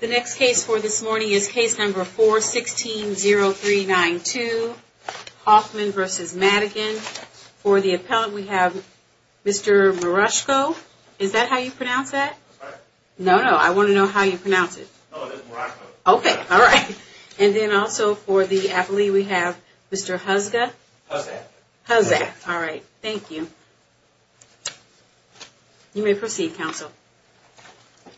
The next case for this morning is case number 416-0392, Hoffman v. Madigan. For the appellant we have Mr. Miroshko. Is that how you pronounce that? No, no, I want to know how you pronounce it. Okay, all right. And then also for the appellee we have Mr. Huzgah. Huzzah. Huzzah, all right. Thank you. You may proceed, counsel. I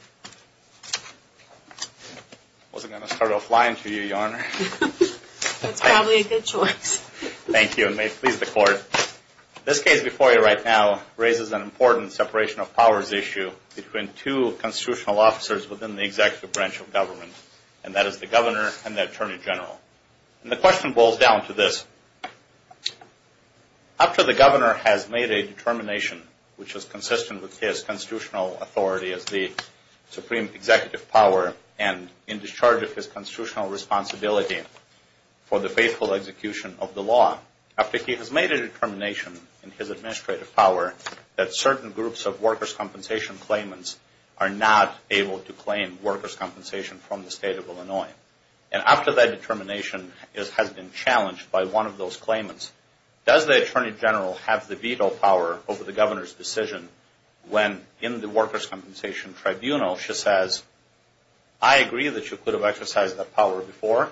wasn't going to start off lying to you, Your Honor. That's probably a good choice. Thank you, and may it please the court. This case before you right now raises an important separation of powers issue between two constitutional officers within the executive branch of government, and that is the governor and the attorney general. And the question boils down to this. After the governor has made a determination, which is consistent with his constitutional authority as the supreme executive power and in discharge of his constitutional responsibility for the faithful execution of the law, after he has made a determination in his administrative power that certain groups of workers' compensation claimants are not able to claim workers' compensation from the state of Illinois, and after that determination has been challenged by one of those claimants, does the attorney general have the veto power over the governor's decision when in the workers' compensation tribunal she says, I agree that you could have exercised that power before,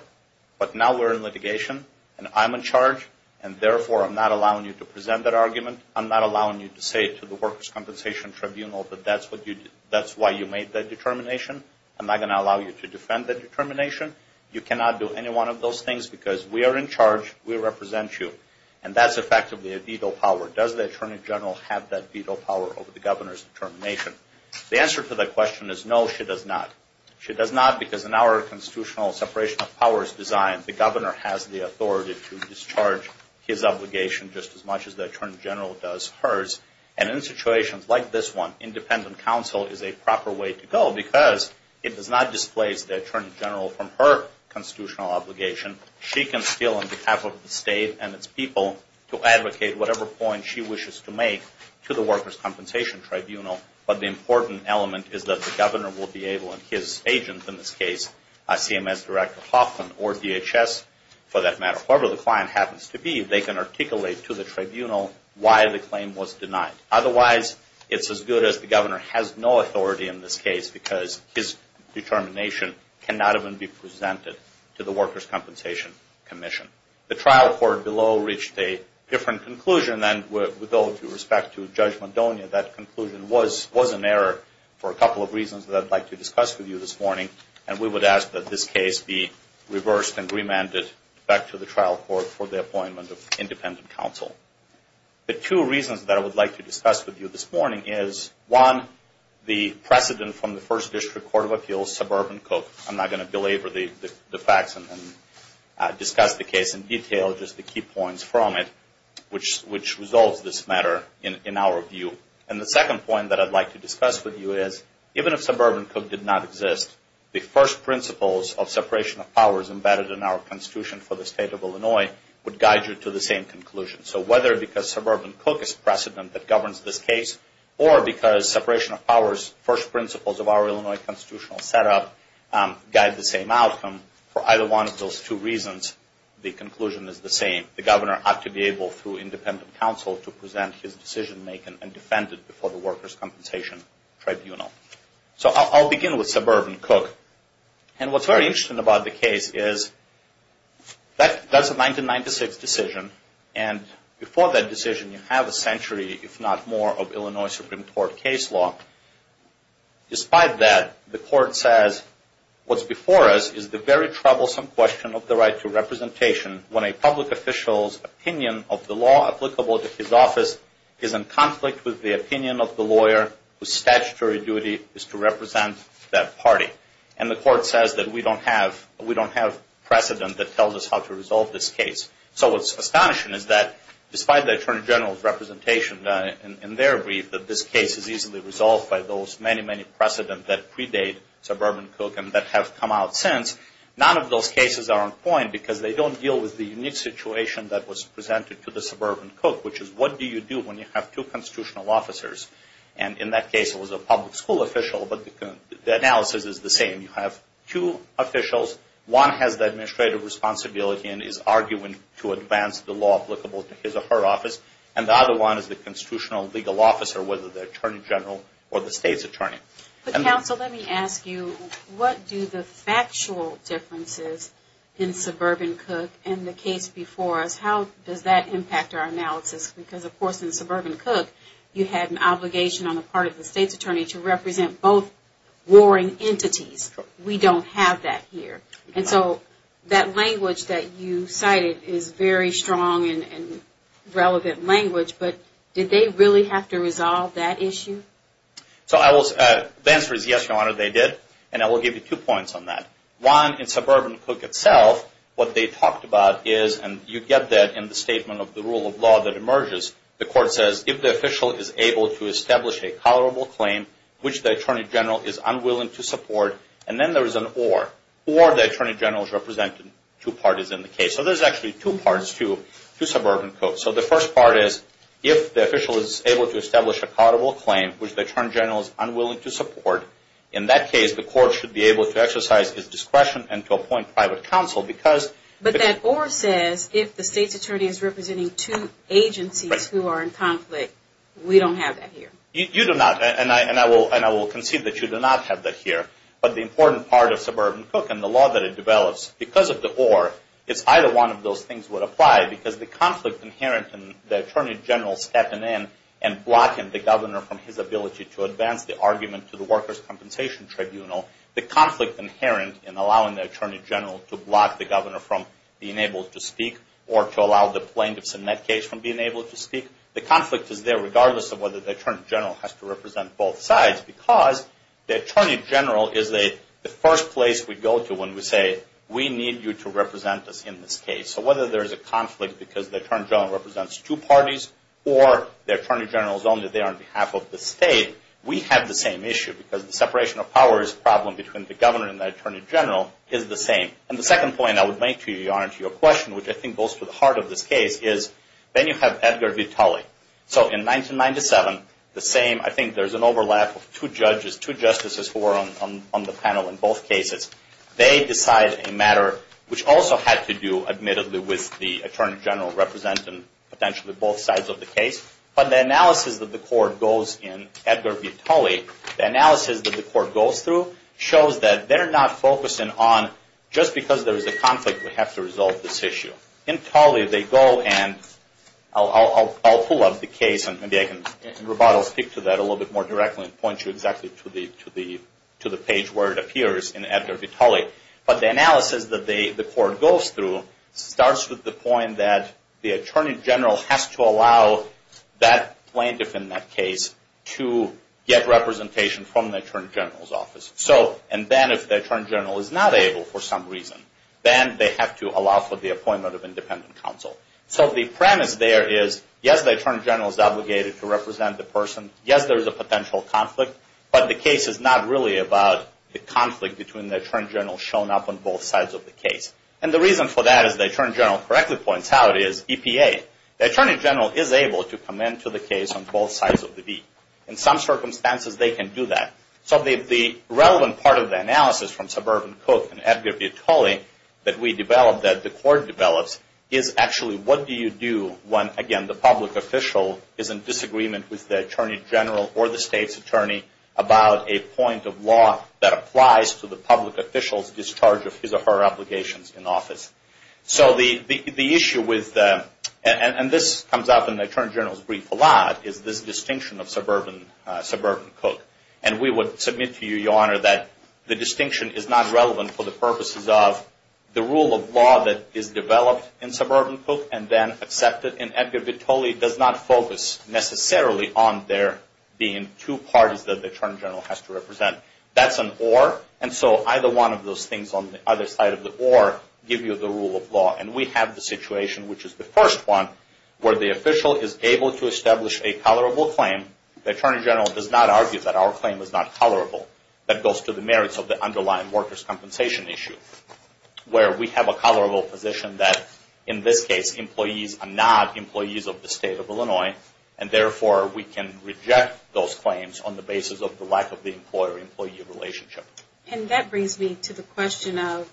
but now we're in litigation and I'm in charge, and therefore I'm not allowing you to present that argument. I'm not allowing you to say to the workers' compensation tribunal that that's why you made that determination. I'm not going to allow you to defend that determination. You cannot do any one of those things because we are in charge. We represent you. And that's effectively a veto power. Does the attorney general have that veto power over the governor's determination? The answer to that question is no, she does not. She does not because in our constitutional separation of powers design, the governor has the authority to discharge his obligation just as much as the attorney general does hers. And in situations like this one, independent counsel is a proper way to go because it does not displace the attorney general from her constitutional obligation. She can still, on behalf of the state and its people, to advocate whatever point she wishes to make to the workers' compensation tribunal, but the important element is that the governor will be able, and his agents in this case, CMS Director Hoffman or DHS for that matter, whoever the client happens to be, they can articulate to the tribunal why the claim was denied. Otherwise, it's as good as the governor has no authority in this case because his determination cannot even be presented to the workers' compensation commission. The trial court below reached a different conclusion than with all due respect to Judge Maldonado. That conclusion was an error for a couple of reasons that I'd like to discuss with you this morning, and we would ask that this case be reversed and remanded back to the trial court for the appointment of independent counsel. The two reasons that I would like to discuss with you this morning is, one, the precedent from the First District Court of Appeals, suburban Cook. I'm not going to belabor the facts and discuss the case in detail, just the key points from it, which resolves this matter in our view. And the second point that I'd like to discuss with you is, even if suburban Cook did not exist, the first principles of separation of powers embedded in our Constitution for the State of Illinois would guide you to the same conclusion. So whether because suburban Cook is precedent that governs this case or because separation of powers, first principles of our Illinois constitutional setup, guide the same outcome, for either one of those two reasons, the conclusion is the same. The governor ought to be able, through independent counsel, to present his decision-making and defend it before the workers' compensation tribunal. So I'll begin with suburban Cook. And what's very interesting about the case is, that's a 1996 decision, and before that decision you have a century, if not more, of Illinois Supreme Court case law. Despite that, the court says, what's before us is the very troublesome question of the right to representation when a public official's opinion of the law applicable to his office is in conflict with the opinion of the lawyer whose statutory duty is to represent that party. And the court says that we don't have precedent that tells us how to resolve this case. So what's astonishing is that, despite the Attorney General's representation in their brief, that this case is easily resolved by those many, many precedent that predate suburban Cook and that have come out since, none of those cases are on point because they don't deal with the unique situation that was presented to the suburban Cook, which is what do you do when you have two constitutional officers and in that case it was a public school official, but the analysis is the same. You have two officials. One has the administrative responsibility and is arguing to advance the law applicable to his or her office, and the other one is the constitutional legal officer, whether the Attorney General or the state's attorney. But counsel, let me ask you, what do the factual differences in suburban Cook and the case before us, how does that impact our analysis? Because, of course, in suburban Cook you had an obligation on the part of the state's attorney to represent both warring entities. We don't have that here. And so that language that you cited is very strong and relevant language, but did they really have to resolve that issue? So the answer is yes, Your Honor, they did, and I will give you two points on that. One, in suburban Cook itself, what they talked about is, and you get that in the statement of the rule of law that emerges, the court says, if the official is able to establish a tolerable claim, which the Attorney General is unwilling to support, and then there is an or, or the Attorney General is representing two parties in the case. So there's actually two parts to suburban Cook. So the first part is, if the official is able to establish a tolerable claim, which the Attorney General is unwilling to support, in that case the court should be able to exercise its discretion and to appoint private counsel because But that or says, if the state's attorney is representing two agencies who are in conflict, we don't have that here. You do not, and I will concede that you do not have that here. But the important part of suburban Cook and the law that it develops, because of the or, it's either one of those things would apply, because the conflict inherent in the Attorney General stepping in and blocking the Governor from his ability to advance the argument to the Workers' Compensation Tribunal, the conflict inherent in allowing the Attorney General to block the Governor from being able to speak or to allow the plaintiffs in that case from being able to speak, the conflict is there regardless of whether the Attorney General has to represent both sides because the Attorney General is the first place we go to when we say, we need you to represent us in this case. So whether there is a conflict because the Attorney General represents two parties or the Attorney General is only there on behalf of the state, we have the same issue because the separation of powers problem between the Governor and the Attorney General is the same. And the second point I would make to your question, which I think goes to the heart of this case, is then you have Edgar V. Tully. So in 1997, the same, I think there's an overlap of two judges, two justices who are on the panel in both cases. They decide a matter which also had to do, admittedly, with the Attorney General representing potentially both sides of the case. But the analysis that the court goes in Edgar V. Tully, the analysis that the court goes through shows that they're not focusing on just because there's a conflict, we have to resolve this issue. In Tully, they go and, I'll pull up the case and maybe I can, Roboto will speak to that a little bit more directly and point you exactly to the page where it appears in Edgar V. Tully. But the analysis that the court goes through starts with the point that the Attorney General has to allow that plaintiff in that case to get representation from the Attorney General's office. And then if the Attorney General is not able for some reason, then they have to allow for the appointment of independent counsel. So the premise there is, yes, the Attorney General is obligated to represent the person, yes, there is a potential conflict, but the case is not really about the conflict between the Attorney General shown up on both sides of the case. And the reason for that, as the Attorney General correctly points out, is EPA. The Attorney General is able to come into the case on both sides of the beat. In some circumstances, they can do that. So the relevant part of the analysis from Suburban Cook and Edgar V. Tully that we developed, that the court develops, is actually what do you do when, again, the public official is in disagreement with the Attorney General or the state's attorney about a point of law that applies to the public official's charge of his or her obligations in office. So the issue with that, and this comes up in the Attorney General's brief a lot, is this distinction of Suburban Cook. And we would submit to you, Your Honor, that the distinction is not relevant for the purposes of the rule of law that is developed in Suburban Cook and then accepted in Edgar V. Tully does not focus necessarily on there being two parties that the Attorney General has to represent. That's an or. And so either one of those things on the other side of the or give you the rule of law. And we have the situation, which is the first one, where the official is able to establish a tolerable claim. The Attorney General does not argue that our claim is not tolerable. That goes to the merits of the underlying workers' compensation issue, where we have a tolerable position that, in this case, employees are not employees of the State of Illinois, and therefore we can reject those claims on the basis of the lack of the employer-employee relationship. And that brings me to the question of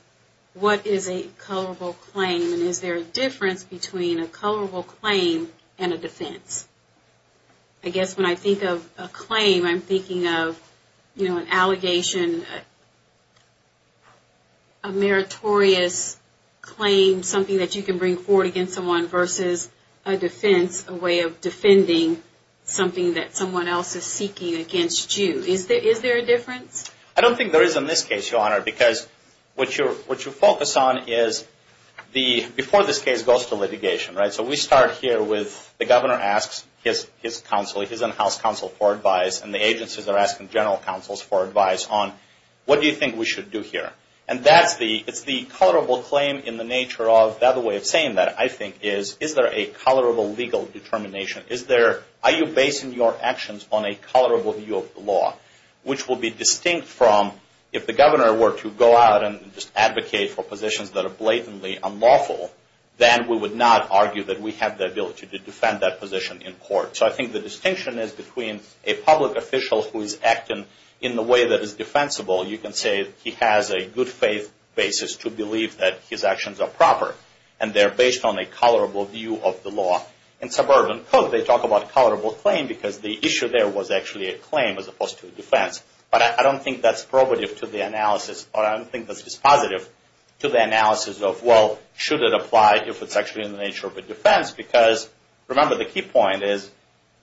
what is a tolerable claim, and is there a difference between a tolerable claim and a defense? I guess when I think of a claim, I'm thinking of, you know, an allegation, a meritorious claim, something that you can bring forward against someone versus a defense, a way of defending something that someone else is seeking against you. Is there a difference? I don't think there is in this case, Your Honor, because what you focus on is before this case goes to litigation, right? So we start here with the governor asks his counsel, his in-house counsel for advice, and the agencies are asking general counsels for advice on what do you think we should do here. And that's the tolerable claim in the nature of the other way of saying that, I think, is, is there a tolerable legal determination? Are you basing your actions on a tolerable view of the law, which will be distinct from if the governor were to go out and just advocate for positions that are blatantly unlawful, then we would not argue that we have the ability to defend that position in court. So I think the distinction is between a public official who is acting in the way that is defensible, you can say he has a good faith basis to believe that his actions are proper, and they're based on a tolerable view of the law. In suburban court, they talk about tolerable claim because the issue there was actually a claim as opposed to a defense. But I don't think that's probative to the analysis, or I don't think that's dispositive to the analysis of, well, should it apply if it's actually in the nature of a defense? Because, remember, the key point is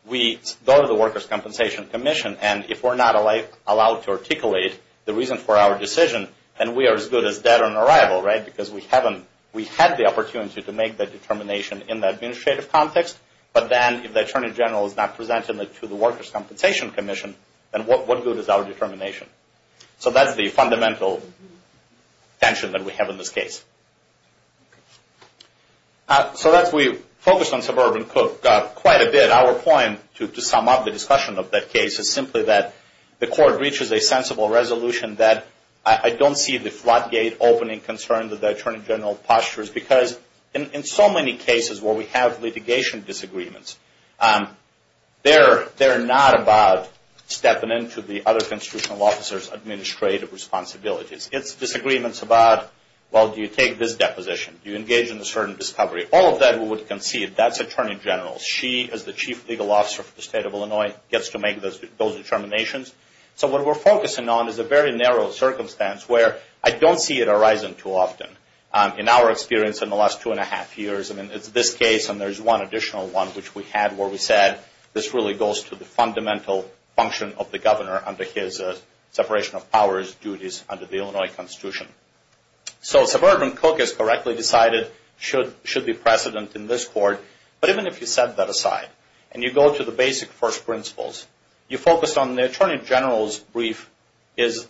we go to the Workers' Compensation Commission, and if we're not allowed to articulate the reason for our decision, then we are as good as dead on arrival, right? Because we haven't, we have the opportunity to make that determination in the administrative context, but then if the Attorney General is not presenting it to the Workers' Compensation Commission, then what good is our determination? So that's the fundamental tension that we have in this case. So we focused on suburban court quite a bit. Our point, to sum up the discussion of that case, is simply that the court reaches a sensible resolution that I don't see the because in so many cases where we have litigation disagreements, they're not about stepping into the other constitutional officer's administrative responsibilities. It's disagreements about, well, do you take this deposition? Do you engage in a certain discovery? All of that we would concede. That's Attorney General. She, as the Chief Legal Officer for the State of Illinois, gets to make those determinations. So what we're focusing on is a very narrow circumstance where I don't see it arising too often. In our experience in the last two and a half years, I mean it's this case and there's one additional one which we had where we said this really goes to the fundamental function of the governor under his separation of powers duties under the Illinois Constitution. So suburban Cook is correctly decided, should be precedent in this court. But even if you set that aside and you go to the basic first principles, you focus on the Attorney General's brief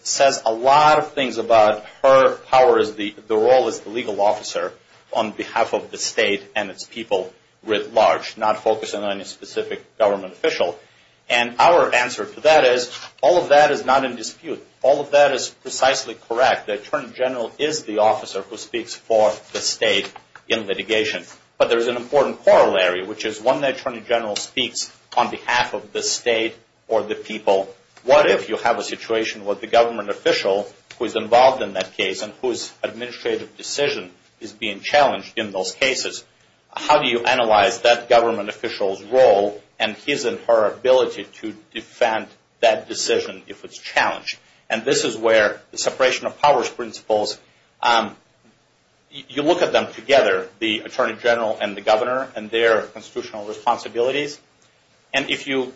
says a lot of things about her powers, the role as the legal officer on behalf of the state and its people writ large, not focusing on any specific government official. And our answer to that is all of that is not in dispute. All of that is precisely correct. The Attorney General is the officer who speaks for the state in litigation. But there's an important corollary, which is when the Attorney General speaks on behalf of the state or the people, what if you have a situation where the government official who is involved in that case and whose administrative decision is being challenged in those cases, how do you analyze that government official's role and his and her ability to defend that decision if it's challenged? And this is where the separation of powers principles, you look at them together, the Attorney General and the governor and their constitutional responsibilities. And if you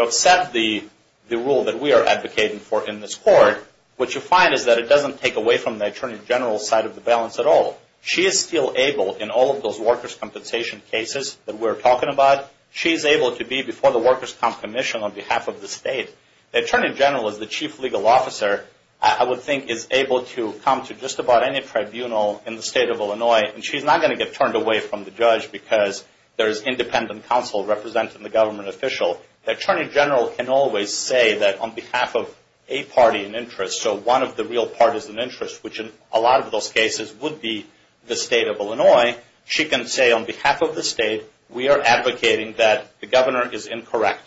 upset the rule that we are advocating for in this court, what you find is that it doesn't take away from the Attorney General's side of the balance at all. She is still able in all of those workers' compensation cases that we're talking about, she's able to be before the workers' comp commission on behalf of the state. The Attorney General is the chief legal officer, I would think, is able to come to just about any tribunal in the state of Illinois, and she's not going to get turned away from the judge because there is independent counsel representing the government official. The Attorney General can always say that on behalf of a party in interest, so one of the real parties in interest, which in a lot of those cases would be the state of Illinois, she can say on behalf of the state, we are advocating that the governor is incorrect.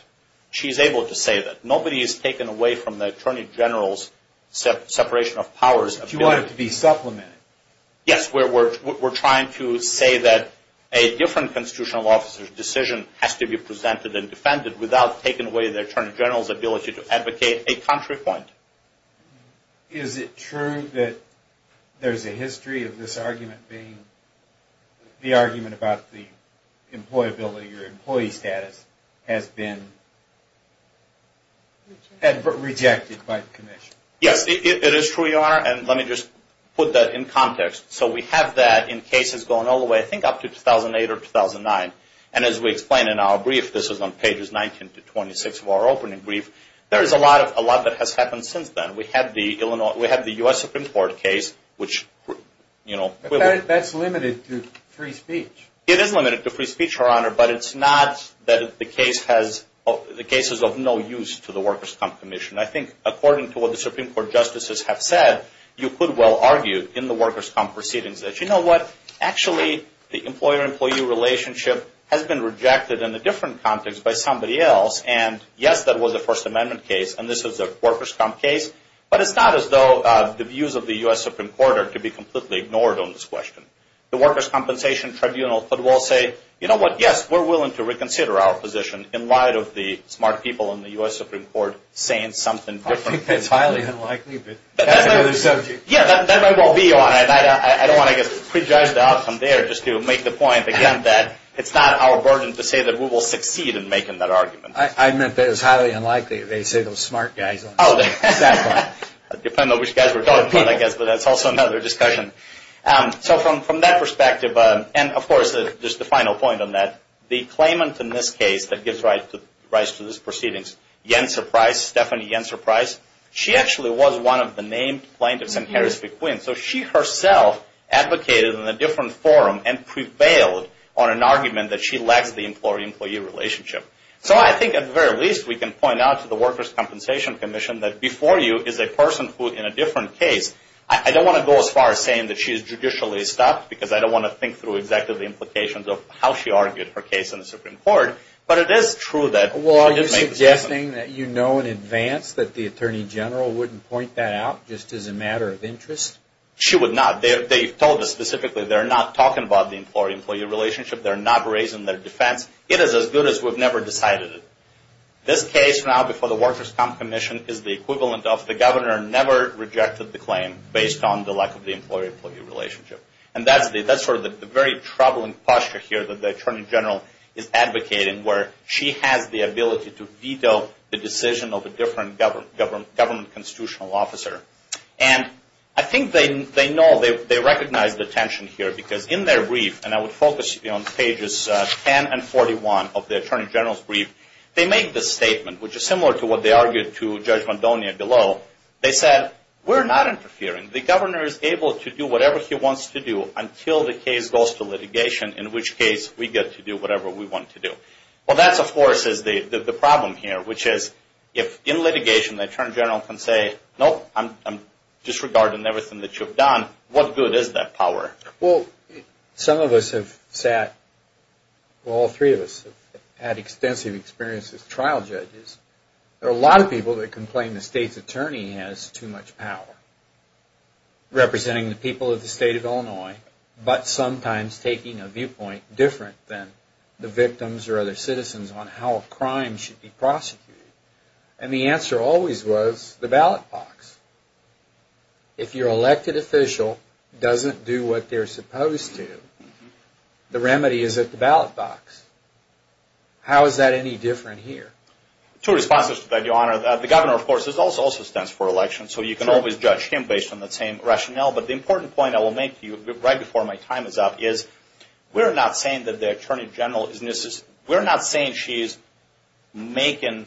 She's able to say that. Nobody is taken away from the Attorney General's separation of powers. But you want it to be supplemented. Yes, we're trying to say that a different constitutional officer's decision has to be presented and defended without taking away the Attorney General's ability to advocate a contrary point. Is it true that there's a history of this argument being the argument about the employability or employee status has been rejected by the commission? Yes, it is true, Your Honor, and let me just put that in context. So we have that in cases going all the way, I think, up to 2008 or 2009. And as we explain in our brief, this is on pages 19 to 26 of our opening brief, there is a lot that has happened since then. We have the U.S. Supreme Court case, which, you know. That's limited to free speech. It is limited to free speech, Your Honor, but it's not that the case has, the case is of no use to the workers' comp commission. I think according to what the Supreme Court justices have said, you could well argue in the workers' comp proceedings that, you know what, actually the employer-employee relationship has been rejected in a different context by somebody else, and, yes, that was a First Amendment case, and this was a workers' comp case, but it's not as though the views of the U.S. Supreme Court are to be completely ignored on this question. The workers' compensation tribunal could well say, you know what, yes, we're willing to reconsider our position in light of the smart people in the U.S. Supreme Court saying something different. I think that's highly unlikely, but that's another subject. Yeah, that might well be, Your Honor. And I don't want to, I guess, prejudge the outcome there just to make the point, again, that it's not our burden to say that we will succeed in making that argument. I admit that it's highly unlikely that they say those smart guys. Oh, that's fine. It depends on which guys we're talking about, I guess, but that's also another discussion. So from that perspective, and, of course, just the final point on that, the claimant in this case that gives rise to this proceedings, Yenser Price, Stephanie Yenser Price, she actually was one of the named plaintiffs in Harris v. Quinn. So she herself advocated in a different forum and prevailed on an argument that she lacks the employee-employee relationship. So I think, at the very least, we can point out to the workers' compensation commission that before you is a person who, in a different case, I don't want to go as far as saying that she is judicially stopped because I don't want to think through exactly the implications of how she argued her case in the Supreme Court, but it is true that she did make the decision. Well, are you suggesting that you know in advance that the Attorney General wouldn't point that out just as a matter of interest? She would not. They told us specifically they're not talking about the employee-employee relationship. They're not raising their defense. It is as good as we've never decided it. This case now before the workers' comp commission is the equivalent of the governor never rejected the claim based on the lack of the employee-employee relationship. And that's sort of the very troubling posture here that the Attorney General is advocating where she has the ability to veto the decision of a different government constitutional officer. And I think they know, they recognize the tension here because in their brief, and I would focus on pages 10 and 41 of the Attorney General's brief, they make this statement, which is similar to what they argued to Judge Mondonia below. They said, we're not interfering. The governor is able to do whatever he wants to do until the case goes to litigation, in which case we get to do whatever we want to do. Well, that, of course, is the problem here, which is if in litigation the Attorney General can say, nope, I'm disregarding everything that you've done, what good is that power? Well, some of us have sat, well, all three of us have had extensive experience as trial judges. There are a lot of people that complain the state's attorney has too much power representing the people of the state of Illinois, but sometimes taking a viewpoint different than the victims or other citizens on how a crime should be prosecuted. And the answer always was the ballot box. If your elected official doesn't do what they're supposed to, the remedy is at the ballot box. How is that any different here? Two responses to that, Your Honor. The governor, of course, also stands for election, so you can always judge him based on the same rationale. But the important point I will make to you right before my time is up is we're not saying that the Attorney General is, we're not saying she is making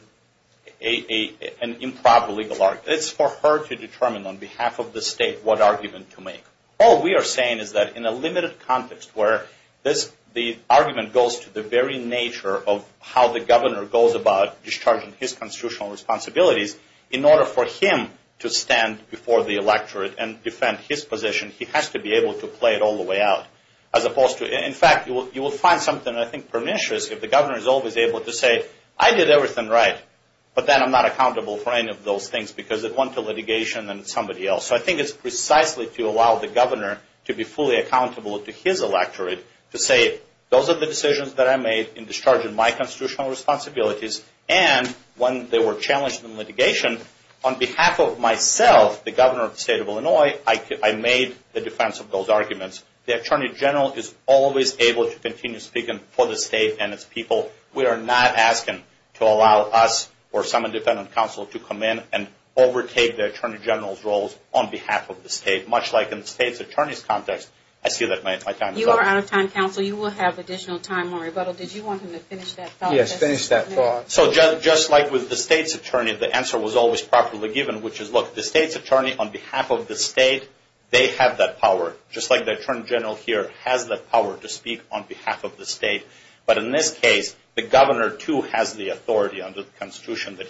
an improper legal argument. It's for her to determine on behalf of the state what argument to make. All we are saying is that in a limited context where this, the argument goes to the very nature of how the governor goes about discharging his constitutional responsibilities in order for him to stand for the electorate and defend his position, he has to be able to play it all the way out. As opposed to, in fact, you will find something, I think, pernicious if the governor is always able to say, I did everything right, but then I'm not accountable for any of those things because it went to litigation and somebody else. So I think it's precisely to allow the governor to be fully accountable to his electorate to say those are the decisions that I made in discharging my constitutional responsibilities, and when they were challenged in litigation, on behalf of myself, the governor of the state of Illinois, I made the defense of those arguments. The Attorney General is always able to continue speaking for the state and its people. We are not asking to allow us or some independent counsel to come in and overtake the Attorney General's role on behalf of the state, much like in the state's attorney's context. I see that my time is up. You are out of time, counsel. You will have additional time, Murray Buttle. Did you want him to finish that thought? Yes, finish that thought. So just like with the state's attorney, the answer was always properly given, which is, look, the state's attorney on behalf of the state, they have that power just like the Attorney General here has that power to speak on behalf of the state. But in this case, the governor, too, has the authority under the Constitution that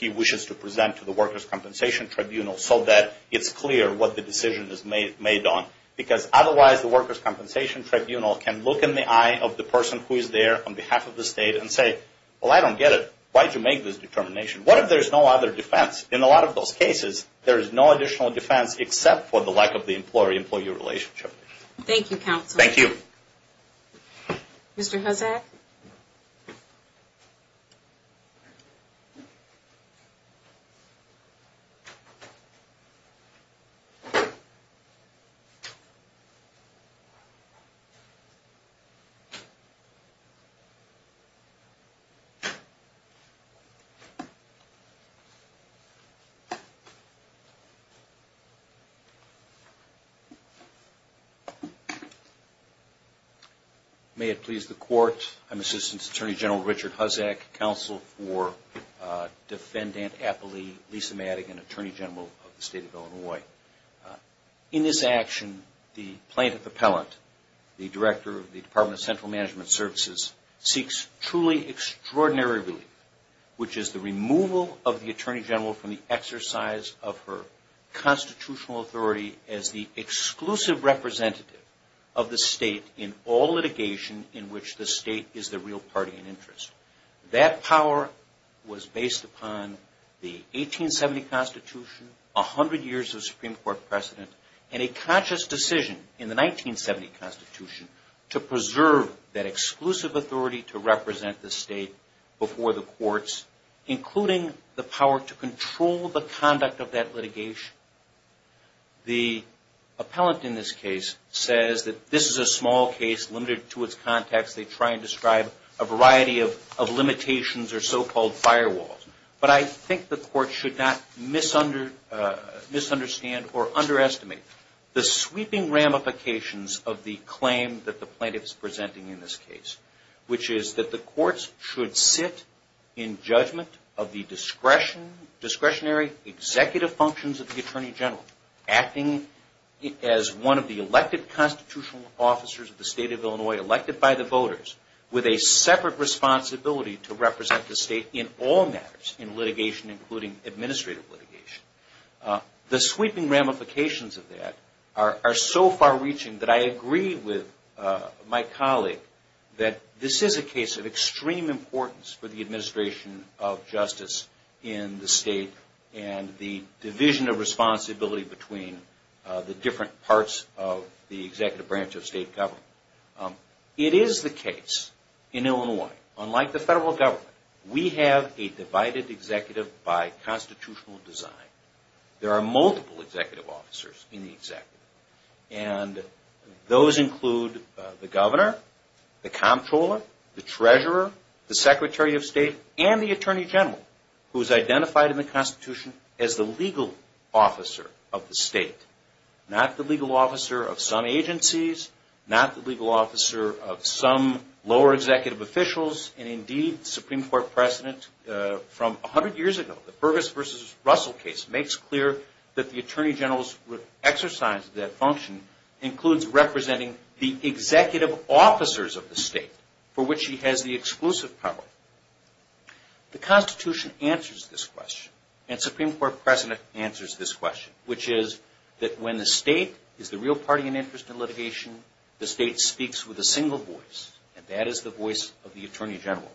he wishes to present to the Workers' Compensation Tribunal so that it's clear what the decision is made on because otherwise the Workers' Compensation Tribunal can look in the eye of the person who is there on behalf of the state and say, well, I don't get it. Why did you make this determination? What if there's no other defense? In a lot of those cases, there is no additional defense except for the lack of the employee-employee relationship. Thank you, counsel. Thank you. Mr. Hozak? May it please the Court. I'm Assistant Attorney General Richard Hozak, counsel for Defendant Appellee Lisa Madigan, Attorney General of the State of Illinois. In this action, the plaintiff appellant, the director of the Department of Central Management Services, seeks truly extraordinary relief, which is the removal of the Attorney General from the exercise of her constitutional authority as the exclusive representative of the state in all litigation in which the state is the real party in interest. That power was based upon the 1870 Constitution, 100 years of Supreme Court precedent, and a conscious decision in the 1970 Constitution to preserve that exclusive authority to represent the state before the courts, including the power to control the conduct of that litigation. The appellant in this case says that this is a small case limited to its context. They try and describe a variety of limitations or so-called firewalls, but I think the court should not misunderstand or underestimate the sweeping ramifications of the claim that the plaintiff is presenting in this case, which is that the courts should sit in judgment of the discretionary executive functions of the Attorney General, acting as one of the elected constitutional officers of the state of Illinois elected by the voters, with a separate responsibility to represent the state in all matters in litigation, including administrative litigation. The sweeping ramifications of that are so far reaching that I agree with my colleague that this is a case of extreme importance for the administration of justice in the state and the division of responsibility between the different parts of the executive branch of state government. It is the case in Illinois, unlike the federal government, we have a divided executive by constitutional design. There are multiple executive officers in the executive, and those include the Governor, the Comptroller, the Treasurer, the Secretary of State, and the Attorney General, who is identified in the Constitution as the legal officer of the state, not the legal officer of some agencies, not the legal officer of some lower executive officials, and indeed the Supreme Court precedent from 100 years ago, the Burgess v. Russell case makes clear that the Attorney General's exercise of that function includes representing the executive officers of the state for which he has the exclusive power. The Constitution answers this question, and Supreme Court precedent answers this question, which is that when the state is the real party in interest in litigation, the state speaks with a single voice, and that is the voice of the Attorney General.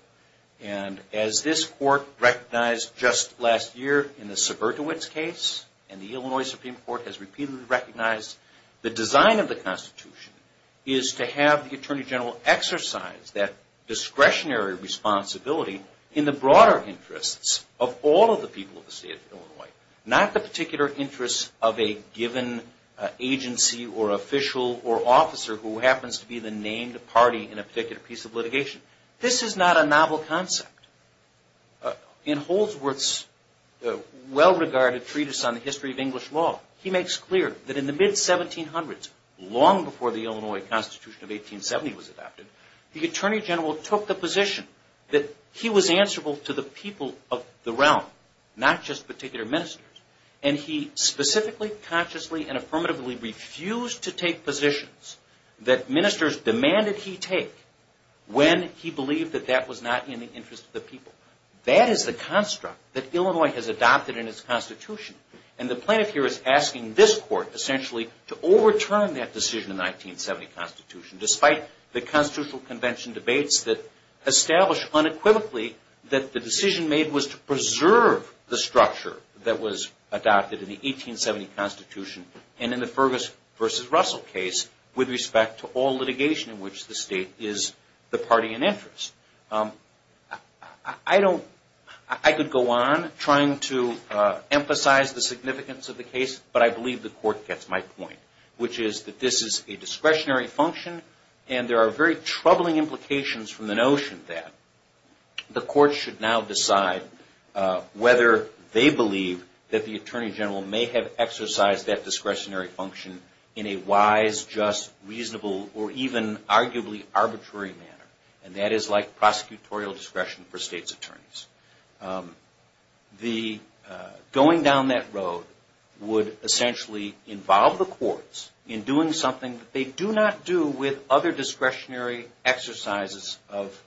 And as this Court recognized just last year in the Suburtoitz case, and the Illinois Supreme Court has repeatedly recognized, the design of the Constitution is to have the Attorney General exercise that discretionary responsibility in the broader interests of all of the people of the state of Illinois, not the particular interests of a given agency or official or officer who happens to be the named party in a particular piece of litigation. This is not a novel concept. In Holdsworth's well-regarded treatise on the history of English law, he makes clear that in the mid-1700s, long before the Illinois Constitution of 1870 was adopted, the Attorney General took the position that he was answerable to the people of the realm, not just particular ministers, and he specifically, consciously, and affirmatively refused to take positions that ministers demanded he take when he believed that that was not in the interest of the people. That is the construct that Illinois has adopted in its Constitution, and the plaintiff here is asking this Court, essentially, to overturn that decision in the 1970 Constitution, despite the Constitutional Convention debates that established unequivocally that the decision made was to preserve the structure that was adopted in the Constitution with respect to all litigation in which the state is the party in interest. I could go on trying to emphasize the significance of the case, but I believe the Court gets my point, which is that this is a discretionary function, and there are very troubling implications from the notion that the Court should now decide whether they believe that the Attorney General may have exercised that discretionary function in a wise, just, reasonable, or even arguably arbitrary manner, and that is like prosecutorial discretion for states' attorneys. Going down that road would essentially involve the courts in doing something that they do not do with other discretionary exercises of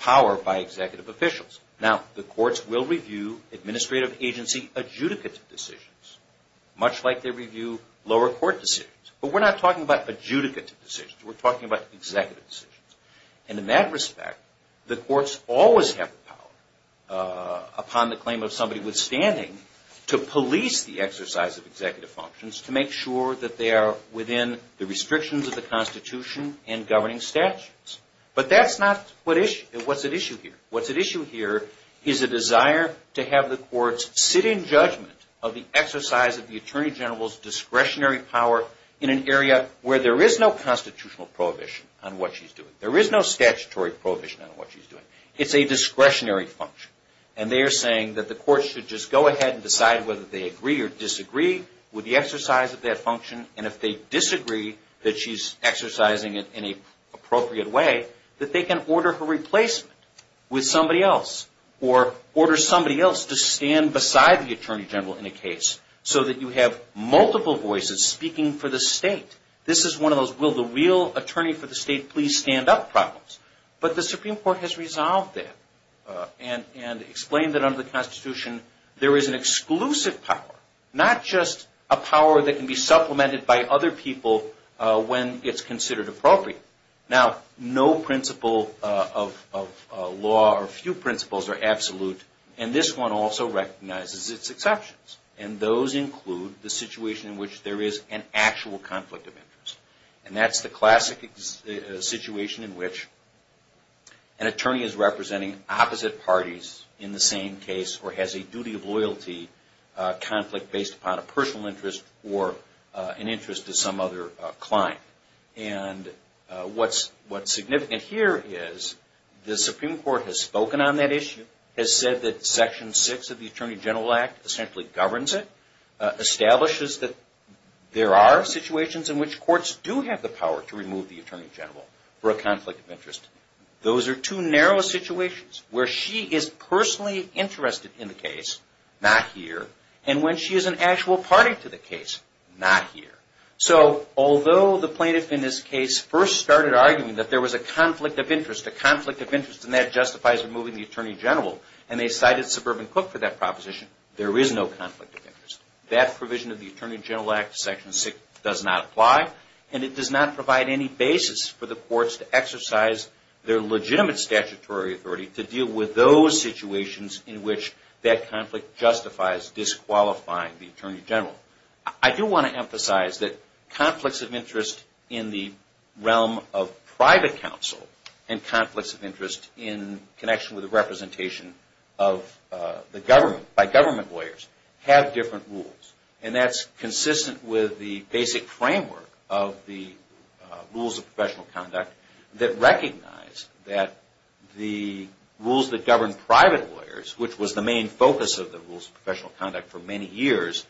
power by executive officials. Now, the courts will review administrative agency adjudicative decisions, much like they review lower court decisions, but we're not talking about adjudicative decisions. We're talking about executive decisions, and in that respect, the courts always have the power, upon the claim of somebody withstanding, to police the exercise of executive functions to make sure that they are within the restrictions of the Constitution and governing statutes, but that's not what's at issue here. What's at issue here is a desire to have the courts sit in judgment of the exercise of the Attorney General's discretionary power in an area where there is no constitutional prohibition on what she's doing. There is no statutory prohibition on what she's doing. It's a discretionary function, and they are saying that the courts should just go ahead and decide whether they agree or disagree with the exercise of that function, and if they disagree that she's exercising it in an appropriate way, that they can order her replacement with somebody else, or order somebody else to stand beside the Attorney General in a case so that you have multiple voices speaking for the state. This is one of those, will the real attorney for the state please stand up problems, but the Supreme Court has resolved that and explained that under the Constitution, there is an exclusive power, not just a power that can be supplemented by other people when it's considered appropriate. Now, no principle of law or few principles are absolute, and this one also recognizes its exceptions, and those include the situation in which there is an actual conflict of interest, and that's the classic situation in which an attorney is representing opposite parties in the same case, or has a duty of loyalty conflict based upon a personal interest or an interest. What's significant here is the Supreme Court has spoken on that issue, has said that section six of the Attorney General Act essentially governs it, establishes that there are situations in which courts do have the power to remove the Attorney General for a conflict of interest. Those are two narrow situations where she is personally interested in the case, not here, and when she is an actual party to the case, not here. So, although the plaintiff in this case first started arguing that there was a conflict of interest, a conflict of interest, and that justifies removing the Attorney General, and they cited Suburban Cook for that proposition, there is no conflict of interest. That provision of the Attorney General Act, section six, does not apply, and it does not provide any basis for the courts to exercise their legitimate statutory authority to deal with those situations in which that conflict justifies disqualifying the Attorney General. I do want to emphasize that conflicts of interest in the realm of private counsel, and conflicts of interest in connection with the representation of the government, by government lawyers, have different rules, and that's consistent with the basic framework of the rules of professional conduct that recognize that the rules that govern private lawyers, which was the main focus of the rules of professional conduct for many years,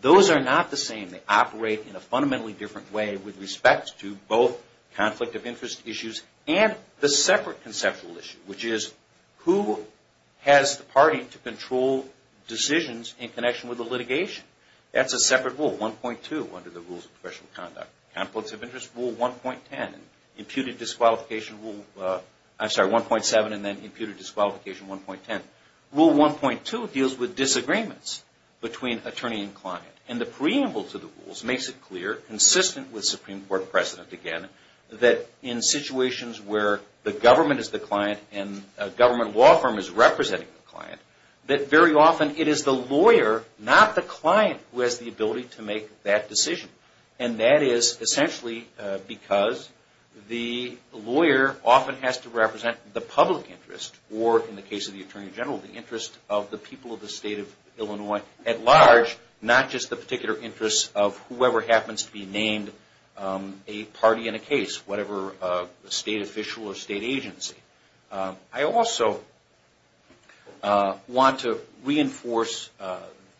those are not the same. They operate in a fundamentally different way with respect to both conflict of interest issues and the separate conceptual issue, which is who has the party to control decisions in connection with the litigation? That's a separate rule, 1.2 under the rules of professional conduct. Conflicts of interest rule 1.10, imputed disqualification rule, I'm sorry, 1.7, and then imputed disqualification 1.10. Rule 1.2 deals with disagreements between attorney and client, and the preamble to the rules makes it clear, consistent with Supreme Court precedent, again, that in situations where the government is the client and a government law firm is representing the client, that very often it is the lawyer, not the client, who has the ability to make that decision, and that is essentially because the lawyer often has to represent the public interest, or in the case of the Attorney General, the interest of the people of the state of Illinois at large, not just the particular interest of whoever happens to be named a party in a case, whatever state official or state agency. I also want to reinforce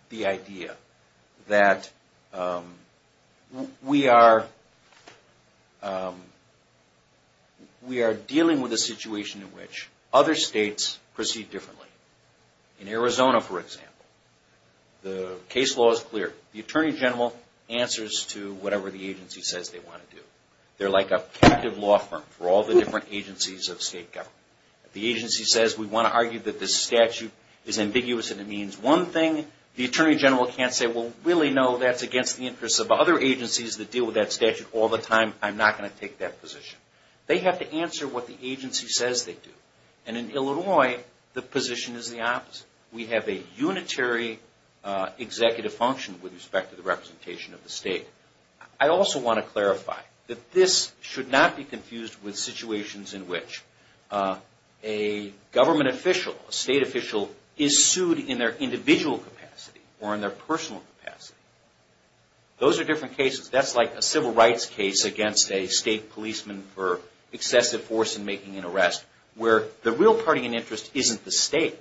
the idea that we are dealing with a situation in which other states proceed differently. In Arizona, for example, the case law is clear. The Attorney General answers to whatever the agency says they want to do. They're like a captive law firm for all the different agencies of state government. If the agency says, we want to argue that this statute is ambiguous and it means one thing, the Attorney General can't say, well, really no, that's against the interests of other agencies that deal with that statute all the time. I'm not going to take that position. They have to answer what the agency says they do. In Illinois, the position is the opposite. We have a unitary executive function with respect to the representation of the state. I also want to clarify that this should not be confused with situations in which a government official, a state official, is sued in their individual capacity or in their personal capacity. Those are different cases. That's like a civil rights case against a state policeman for excessive force in making an arrest where the real party in interest isn't the state.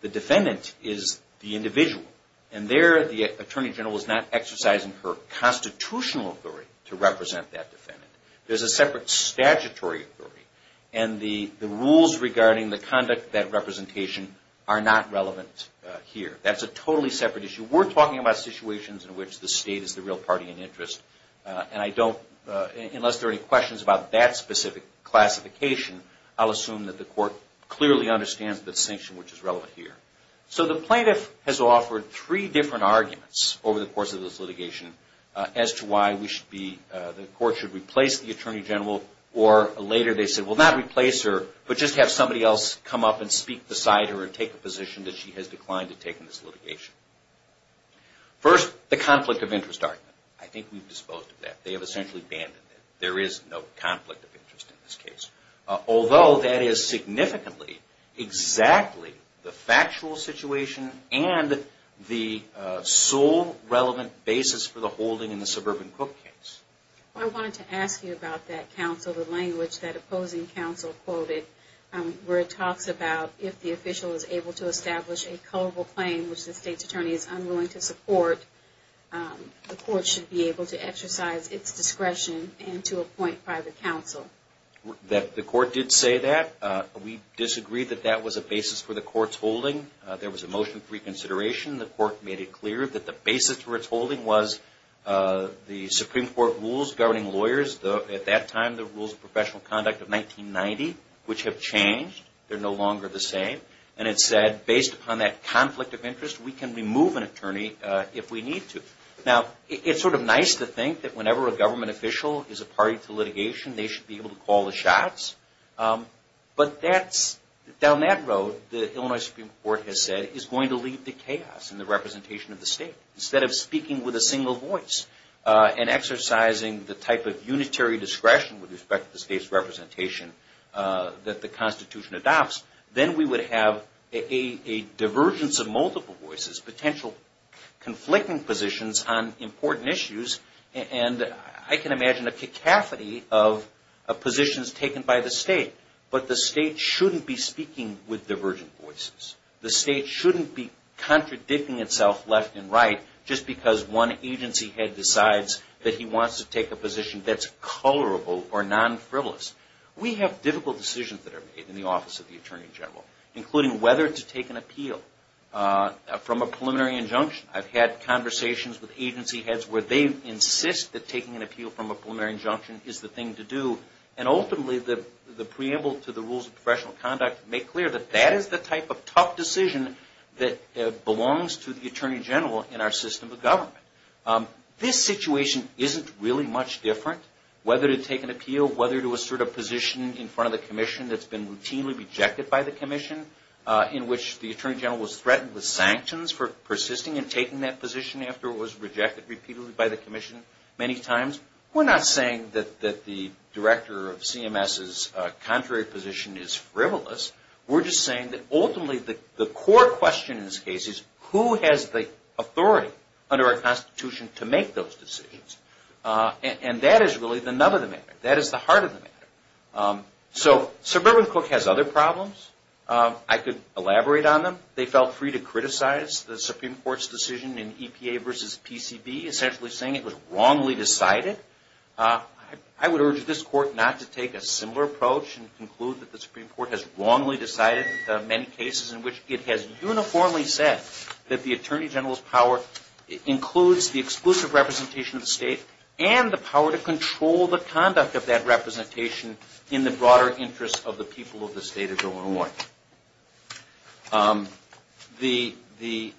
The defendant is the individual. And there, the Attorney General is not exercising her constitutional authority to represent that defendant. There's a separate statutory authority. And the rules regarding the conduct of that representation are not relevant here. That's a totally separate issue. We're talking about situations in which the state is the real party in interest. And I don't, unless there are any questions about that specific classification, I'll assume that the court clearly understands the distinction which is relevant here. So the plaintiff has offered three different arguments over the course of this litigation as to why we should be, the court should replace the Attorney General. Or later, they said, well not replace her, but just have somebody else come up and speak beside her and take the litigation. First, the conflict of interest argument. I think we've disposed of that. They have essentially abandoned it. There is no conflict of interest in this case. Although, that is significantly exactly the factual situation and the sole relevant basis for the holding in the Suburban Cook case. I wanted to ask you about that counsel, the language that opposing counsel quoted where it talks about if the state's attorney is unwilling to support, the court should be able to exercise its discretion and to appoint private counsel. The court did say that. We disagreed that that was a basis for the court's holding. There was a motion for reconsideration. The court made it clear that the basis for its holding was the Supreme Court rules governing lawyers. At that time, the rules of professional conduct of 1990, which have changed. They're no longer the same. It said, based upon that conflict of interest, we can remove an attorney if we need to. It's nice to think that whenever a government official is a party to litigation, they should be able to call the shots. Down that road, the Illinois Supreme Court has said, is going to leave the chaos in the representation of the state. Instead of speaking with a single voice and exercising the type of unitary discretion with respect to the state's representation that the Constitution adopts, then we would have a divergence of multiple voices, potential conflicting positions on important issues. And I can imagine a cacophony of positions taken by the state. But the state shouldn't be speaking with divergent voices. The state shouldn't be contradicting itself left and right just because one agency head decides that he wants to take a position that's colorable or non-frivolous. We have difficult decisions that are made in the office of the Attorney General, including whether to take an appeal from a preliminary injunction. I've had conversations with agency heads where they insist that taking an appeal from a preliminary injunction is the thing to do. And ultimately, the preamble to the rules of professional conduct make clear that that is the type of tough decision that belongs to the Attorney General in our This situation isn't really much different, whether to take an appeal, whether to assert a position in front of the commission that's been routinely rejected by the commission, in which the Attorney General was threatened with sanctions for persisting and taking that position after it was rejected repeatedly by the commission many times. We're not saying that the director of CMS's contrary position is frivolous. We're just saying that ultimately the core question in this case is, who has the authority under our Constitution to make those decisions? And that is really the nub of the matter. That is the heart of the matter. So Sir Berwyn Cook has other problems. I could elaborate on them. They felt free to criticize the Supreme Court's decision in EPA versus PCB, essentially saying it was wrongly decided. I would urge this Court not to take a similar approach and conclude that the Supreme Court has wrongly decided many cases in which it has uniformly said that the Attorney General's power includes the exclusive representation of and the power to control the conduct of that representation in the broader interest of the people of the State of Illinois. The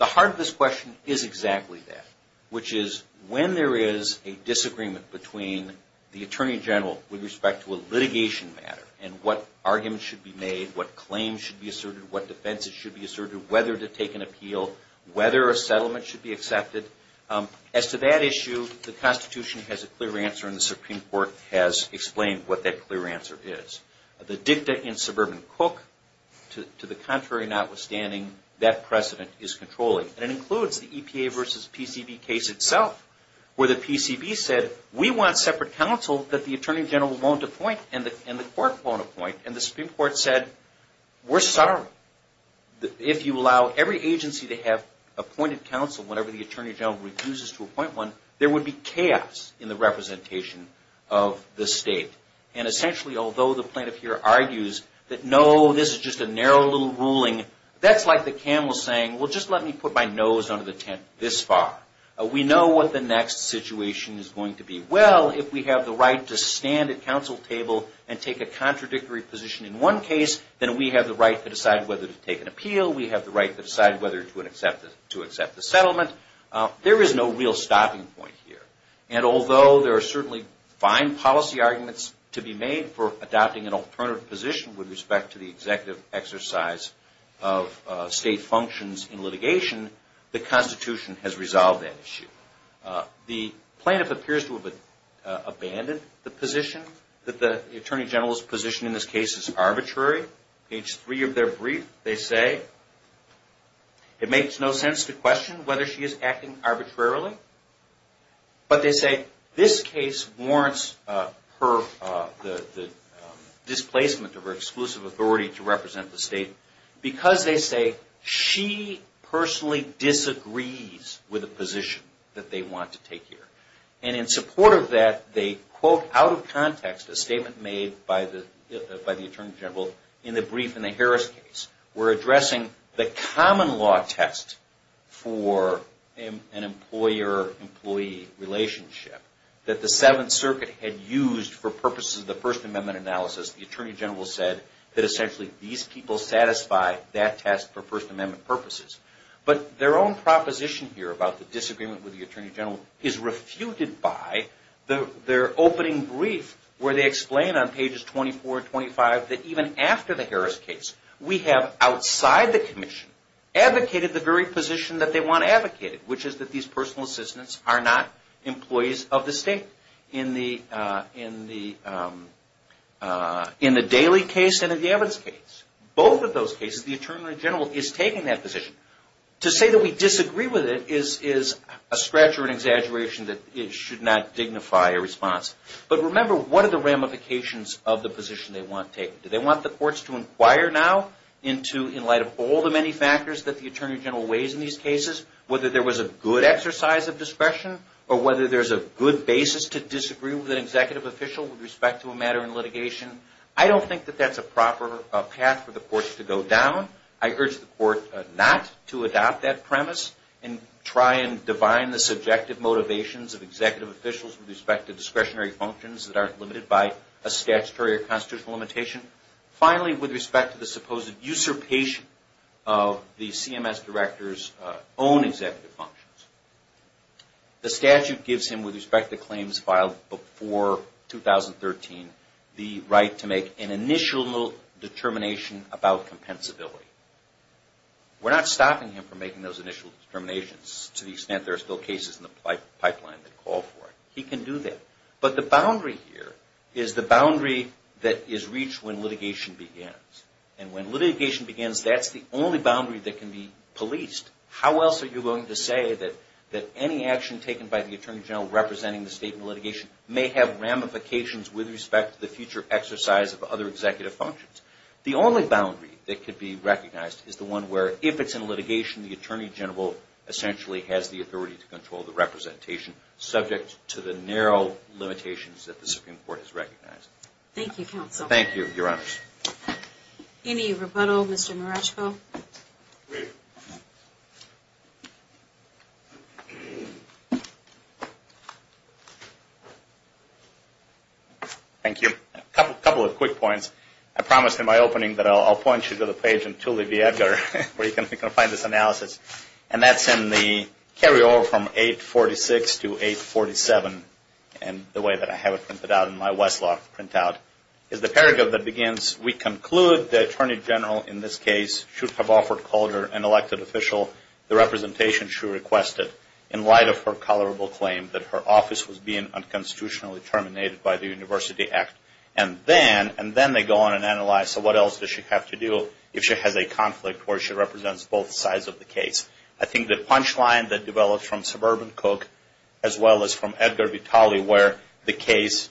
heart of this question is exactly that, which is when there is a disagreement between the Attorney General with respect to a litigation matter and what arguments should be made, what claims should be asserted, what defenses should be asserted, whether to take an appeal, whether a settlement should be accepted. As to that issue, the Constitution has a clear answer and the Supreme Court has explained what that clear answer is. The dicta in Sir Berwyn Cook, to the contrary notwithstanding, that precedent is controlling. And it includes the EPA versus PCB case itself where the PCB said, we want separate counsel that the Attorney General won't appoint and the Court won't appoint. And the Supreme Court said, we're sorry. If you allow every agency to have appointed counsel whenever the Attorney General refuses to appoint one, there would be chaos in the representation of the State. And essentially, although the plaintiff here argues that no, this is just a narrow little ruling, that's like the camel saying, well, just let me put my nose under the tent this far. We know what the next situation is going to be. Well, if we have the right to stand at counsel table and take a decision whether to take an appeal, we have the right to decide whether to accept the settlement. There is no real stopping point here. And although there are certainly fine policy arguments to be made for adopting an alternative position with respect to the executive exercise of State functions in litigation, the Constitution has resolved that issue. The plaintiff appears to have abandoned the position that the Attorney General's position in this case is arbitrary. Page three of their brief, they say, it makes no sense to question whether she is acting arbitrarily. But they say this case warrants the displacement of her exclusive authority to represent the State because they say she personally disagrees with the position that they want to take here. And in support of that, they quote out of context a statement made by the plaintiff in the brief in the Harris case. We're addressing the common law test for an employer-employee relationship that the Seventh Circuit had used for purposes of the First Amendment analysis. The Attorney General said that essentially these people satisfy that test for First Amendment purposes. But their own proposition here about the disagreement with the Attorney General is refuted by their opening brief where they explain on pages 24 and 25 that even after the Harris case, we have outside the commission advocated the very position that they want advocated, which is that these personal assistants are not employees of the State in the Daley case and in the Evans case. Both of those cases, the Attorney General is taking that position. To say that we disagree with it is a scratch or an exaggeration that it should not dignify a response. But remember, what are the ramifications of the position they want taken? Do they want the courts to inquire now into, in light of all the many factors that the Attorney General weighs in these cases, whether there was a good exercise of discretion or whether there's a good basis to disagree with an executive official with respect to a matter in litigation? I don't think that that's a proper path for the courts to go down. I urge the court not to adopt that premise and try and divine the subjective motivations of executive officials with respect to discretionary functions that aren't limited by a statutory or constitutional limitation. Finally, with respect to the supposed usurpation of the CMS director's own executive functions, the statute gives him, with respect to claims filed before 2013, the right to make an initial determination about compensability. We're not stopping him from making those initial determinations to the extent that there are still cases in the pipeline that call for it. He can do that. But the boundary here is the boundary that is reached when litigation begins. And when litigation begins, that's the only boundary that can be policed. How else are you going to say that any action taken by the Attorney General representing the state in litigation may have ramifications with respect to the future exercise of other executive functions? The only boundary that could be recognized is the one where, if it's in subject to the narrow limitations that the Supreme Court has recognized. Thank you, Counsel. Thank you, Your Honors. Any rebuttal, Mr. Maraschko? Thank you. A couple of quick points. I promised in my opening that I'll point you to the page in Thule Viaduct where you can find this analysis. And that's in the carryover from 846 to 847, and the way that I have it printed out in my Westlaw printout, is the paragraph that begins, we conclude the Attorney General in this case should have offered Calder, an elected official, the representation she requested in light of her tolerable claim that her office was being unconstitutionally terminated by the University Act. And then they go on and analyze, so what else does she have to do if she has a conflict where she represents both sides of the case? I think the punchline that develops from Suburban Cook, as well as from Edgar Vitale, where the case,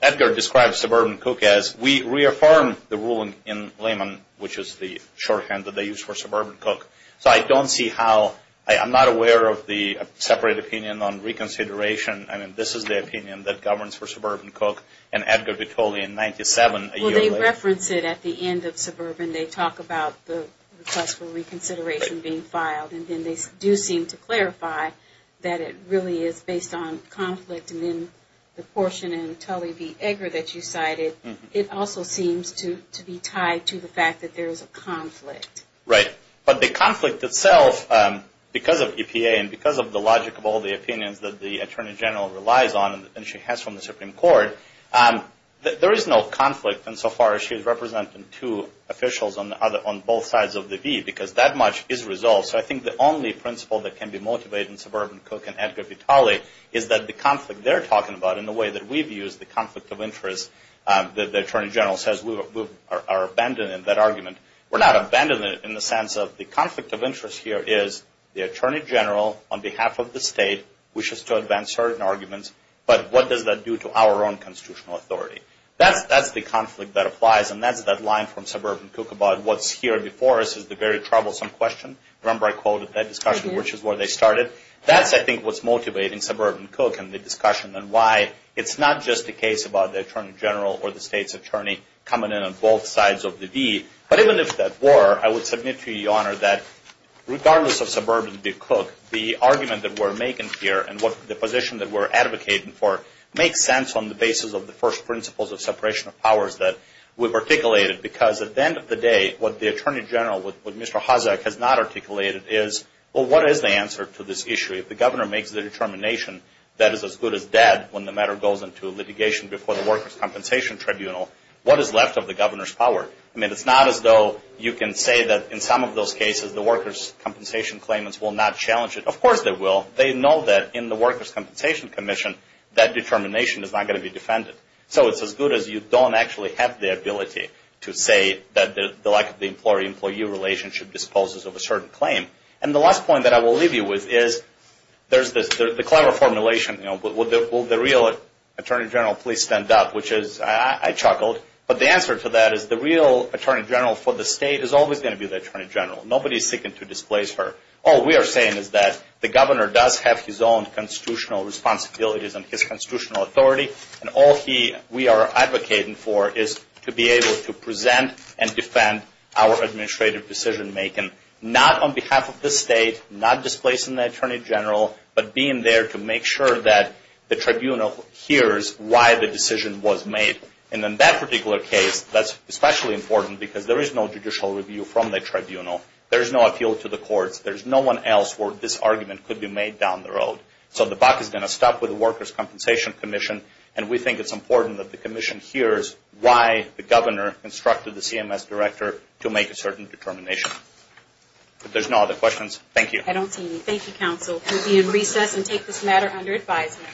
Edgar describes Suburban Cook as, we reaffirmed the ruling in Lehman, which is the shorthand that they used for Suburban Cook. So I don't see how, I'm not aware of the separate opinion on reconsideration. I mean, this is the opinion that governs for Suburban Cook, and Edgar Vitale in 97. Well, they reference it at the end of Suburban. They talk about the request for reconsideration being filed, and then they do seem to clarify that it really is based on conflict. And then the portion in Tully v. Edgar that you cited, it also seems to be tied to the fact that there is a conflict. Right. But the conflict itself, because of EPA, and because of the logic of all the opinions that the Attorney General relies on, and she has from the Supreme Court, there is no conflict. And so far, she is representing two officials on both sides of the V, because that much is resolved. So I think the only principle that can be motivated in Suburban Cook and Edgar Vitale is that the conflict they're talking about, and the way that we've used the conflict of interest, the Attorney General says we are abandoning that argument. We're not abandoning it in the sense of the conflict of interest here is the Attorney General, on behalf of the state, wishes to advance certain arguments, but what does that do to our own constitutional authority? That's the conflict that applies, and that's that line from Suburban Cook about what's here before us is the very troublesome question. Remember I quoted that discussion, which is where they started. That's, I think, what's motivating Suburban Cook and the discussion, and why it's not just a case about the Attorney General or the state's attorney coming in on both sides of the V. But even if that were, I would submit to you, Your Honor, that regardless of Suburban Cook, the argument that we're making here and the position that we're advocating for makes sense on the basis of the first principles of separation of powers that we've articulated, because at the end of the day, what the Attorney General, what Mr. Hozek has not articulated is, well, what is the answer to this issue? If the governor makes the determination that is as good as dead when the matter goes into litigation before the Workers' Compensation Tribunal, what is left of the governor's power? I mean, it's not as though you can say that in some of those cases the Workers' Compensation claimants will not challenge it. Of course they will. They know that in the Workers' Compensation Commission, that determination is not going to be defended. So it's as good as you don't actually have the ability to say that the lack of the employee-employee relationship disposes of a certain claim. And the last point that I will leave you with is there's the clever formulation, you know, will the real Attorney General please stand up, which is, I chuckled, but the answer to that is the real Attorney General for the state is always going to be the Attorney General. Nobody is seeking to displace her. All we are saying is that the governor does have his own constitutional responsibilities and his constitutional authority. And all we are advocating for is to be able to present and defend our administrative decision-making, not on behalf of the state, not displacing the Attorney General, but being there to make sure that the tribunal hears why the decision was made. And in that particular case, that's especially important because there is no judicial review from the tribunal. There's no appeal to the courts. There's no one else where this argument could be made down the road. So the buck is going to stop with the Workers' Compensation Commission, and we think it's important that the commission hears why the governor instructed the CMS director to make a certain determination. If there's no other questions, thank you. I don't see any. Thank you, counsel. We'll be in recess and take this matter under advisement.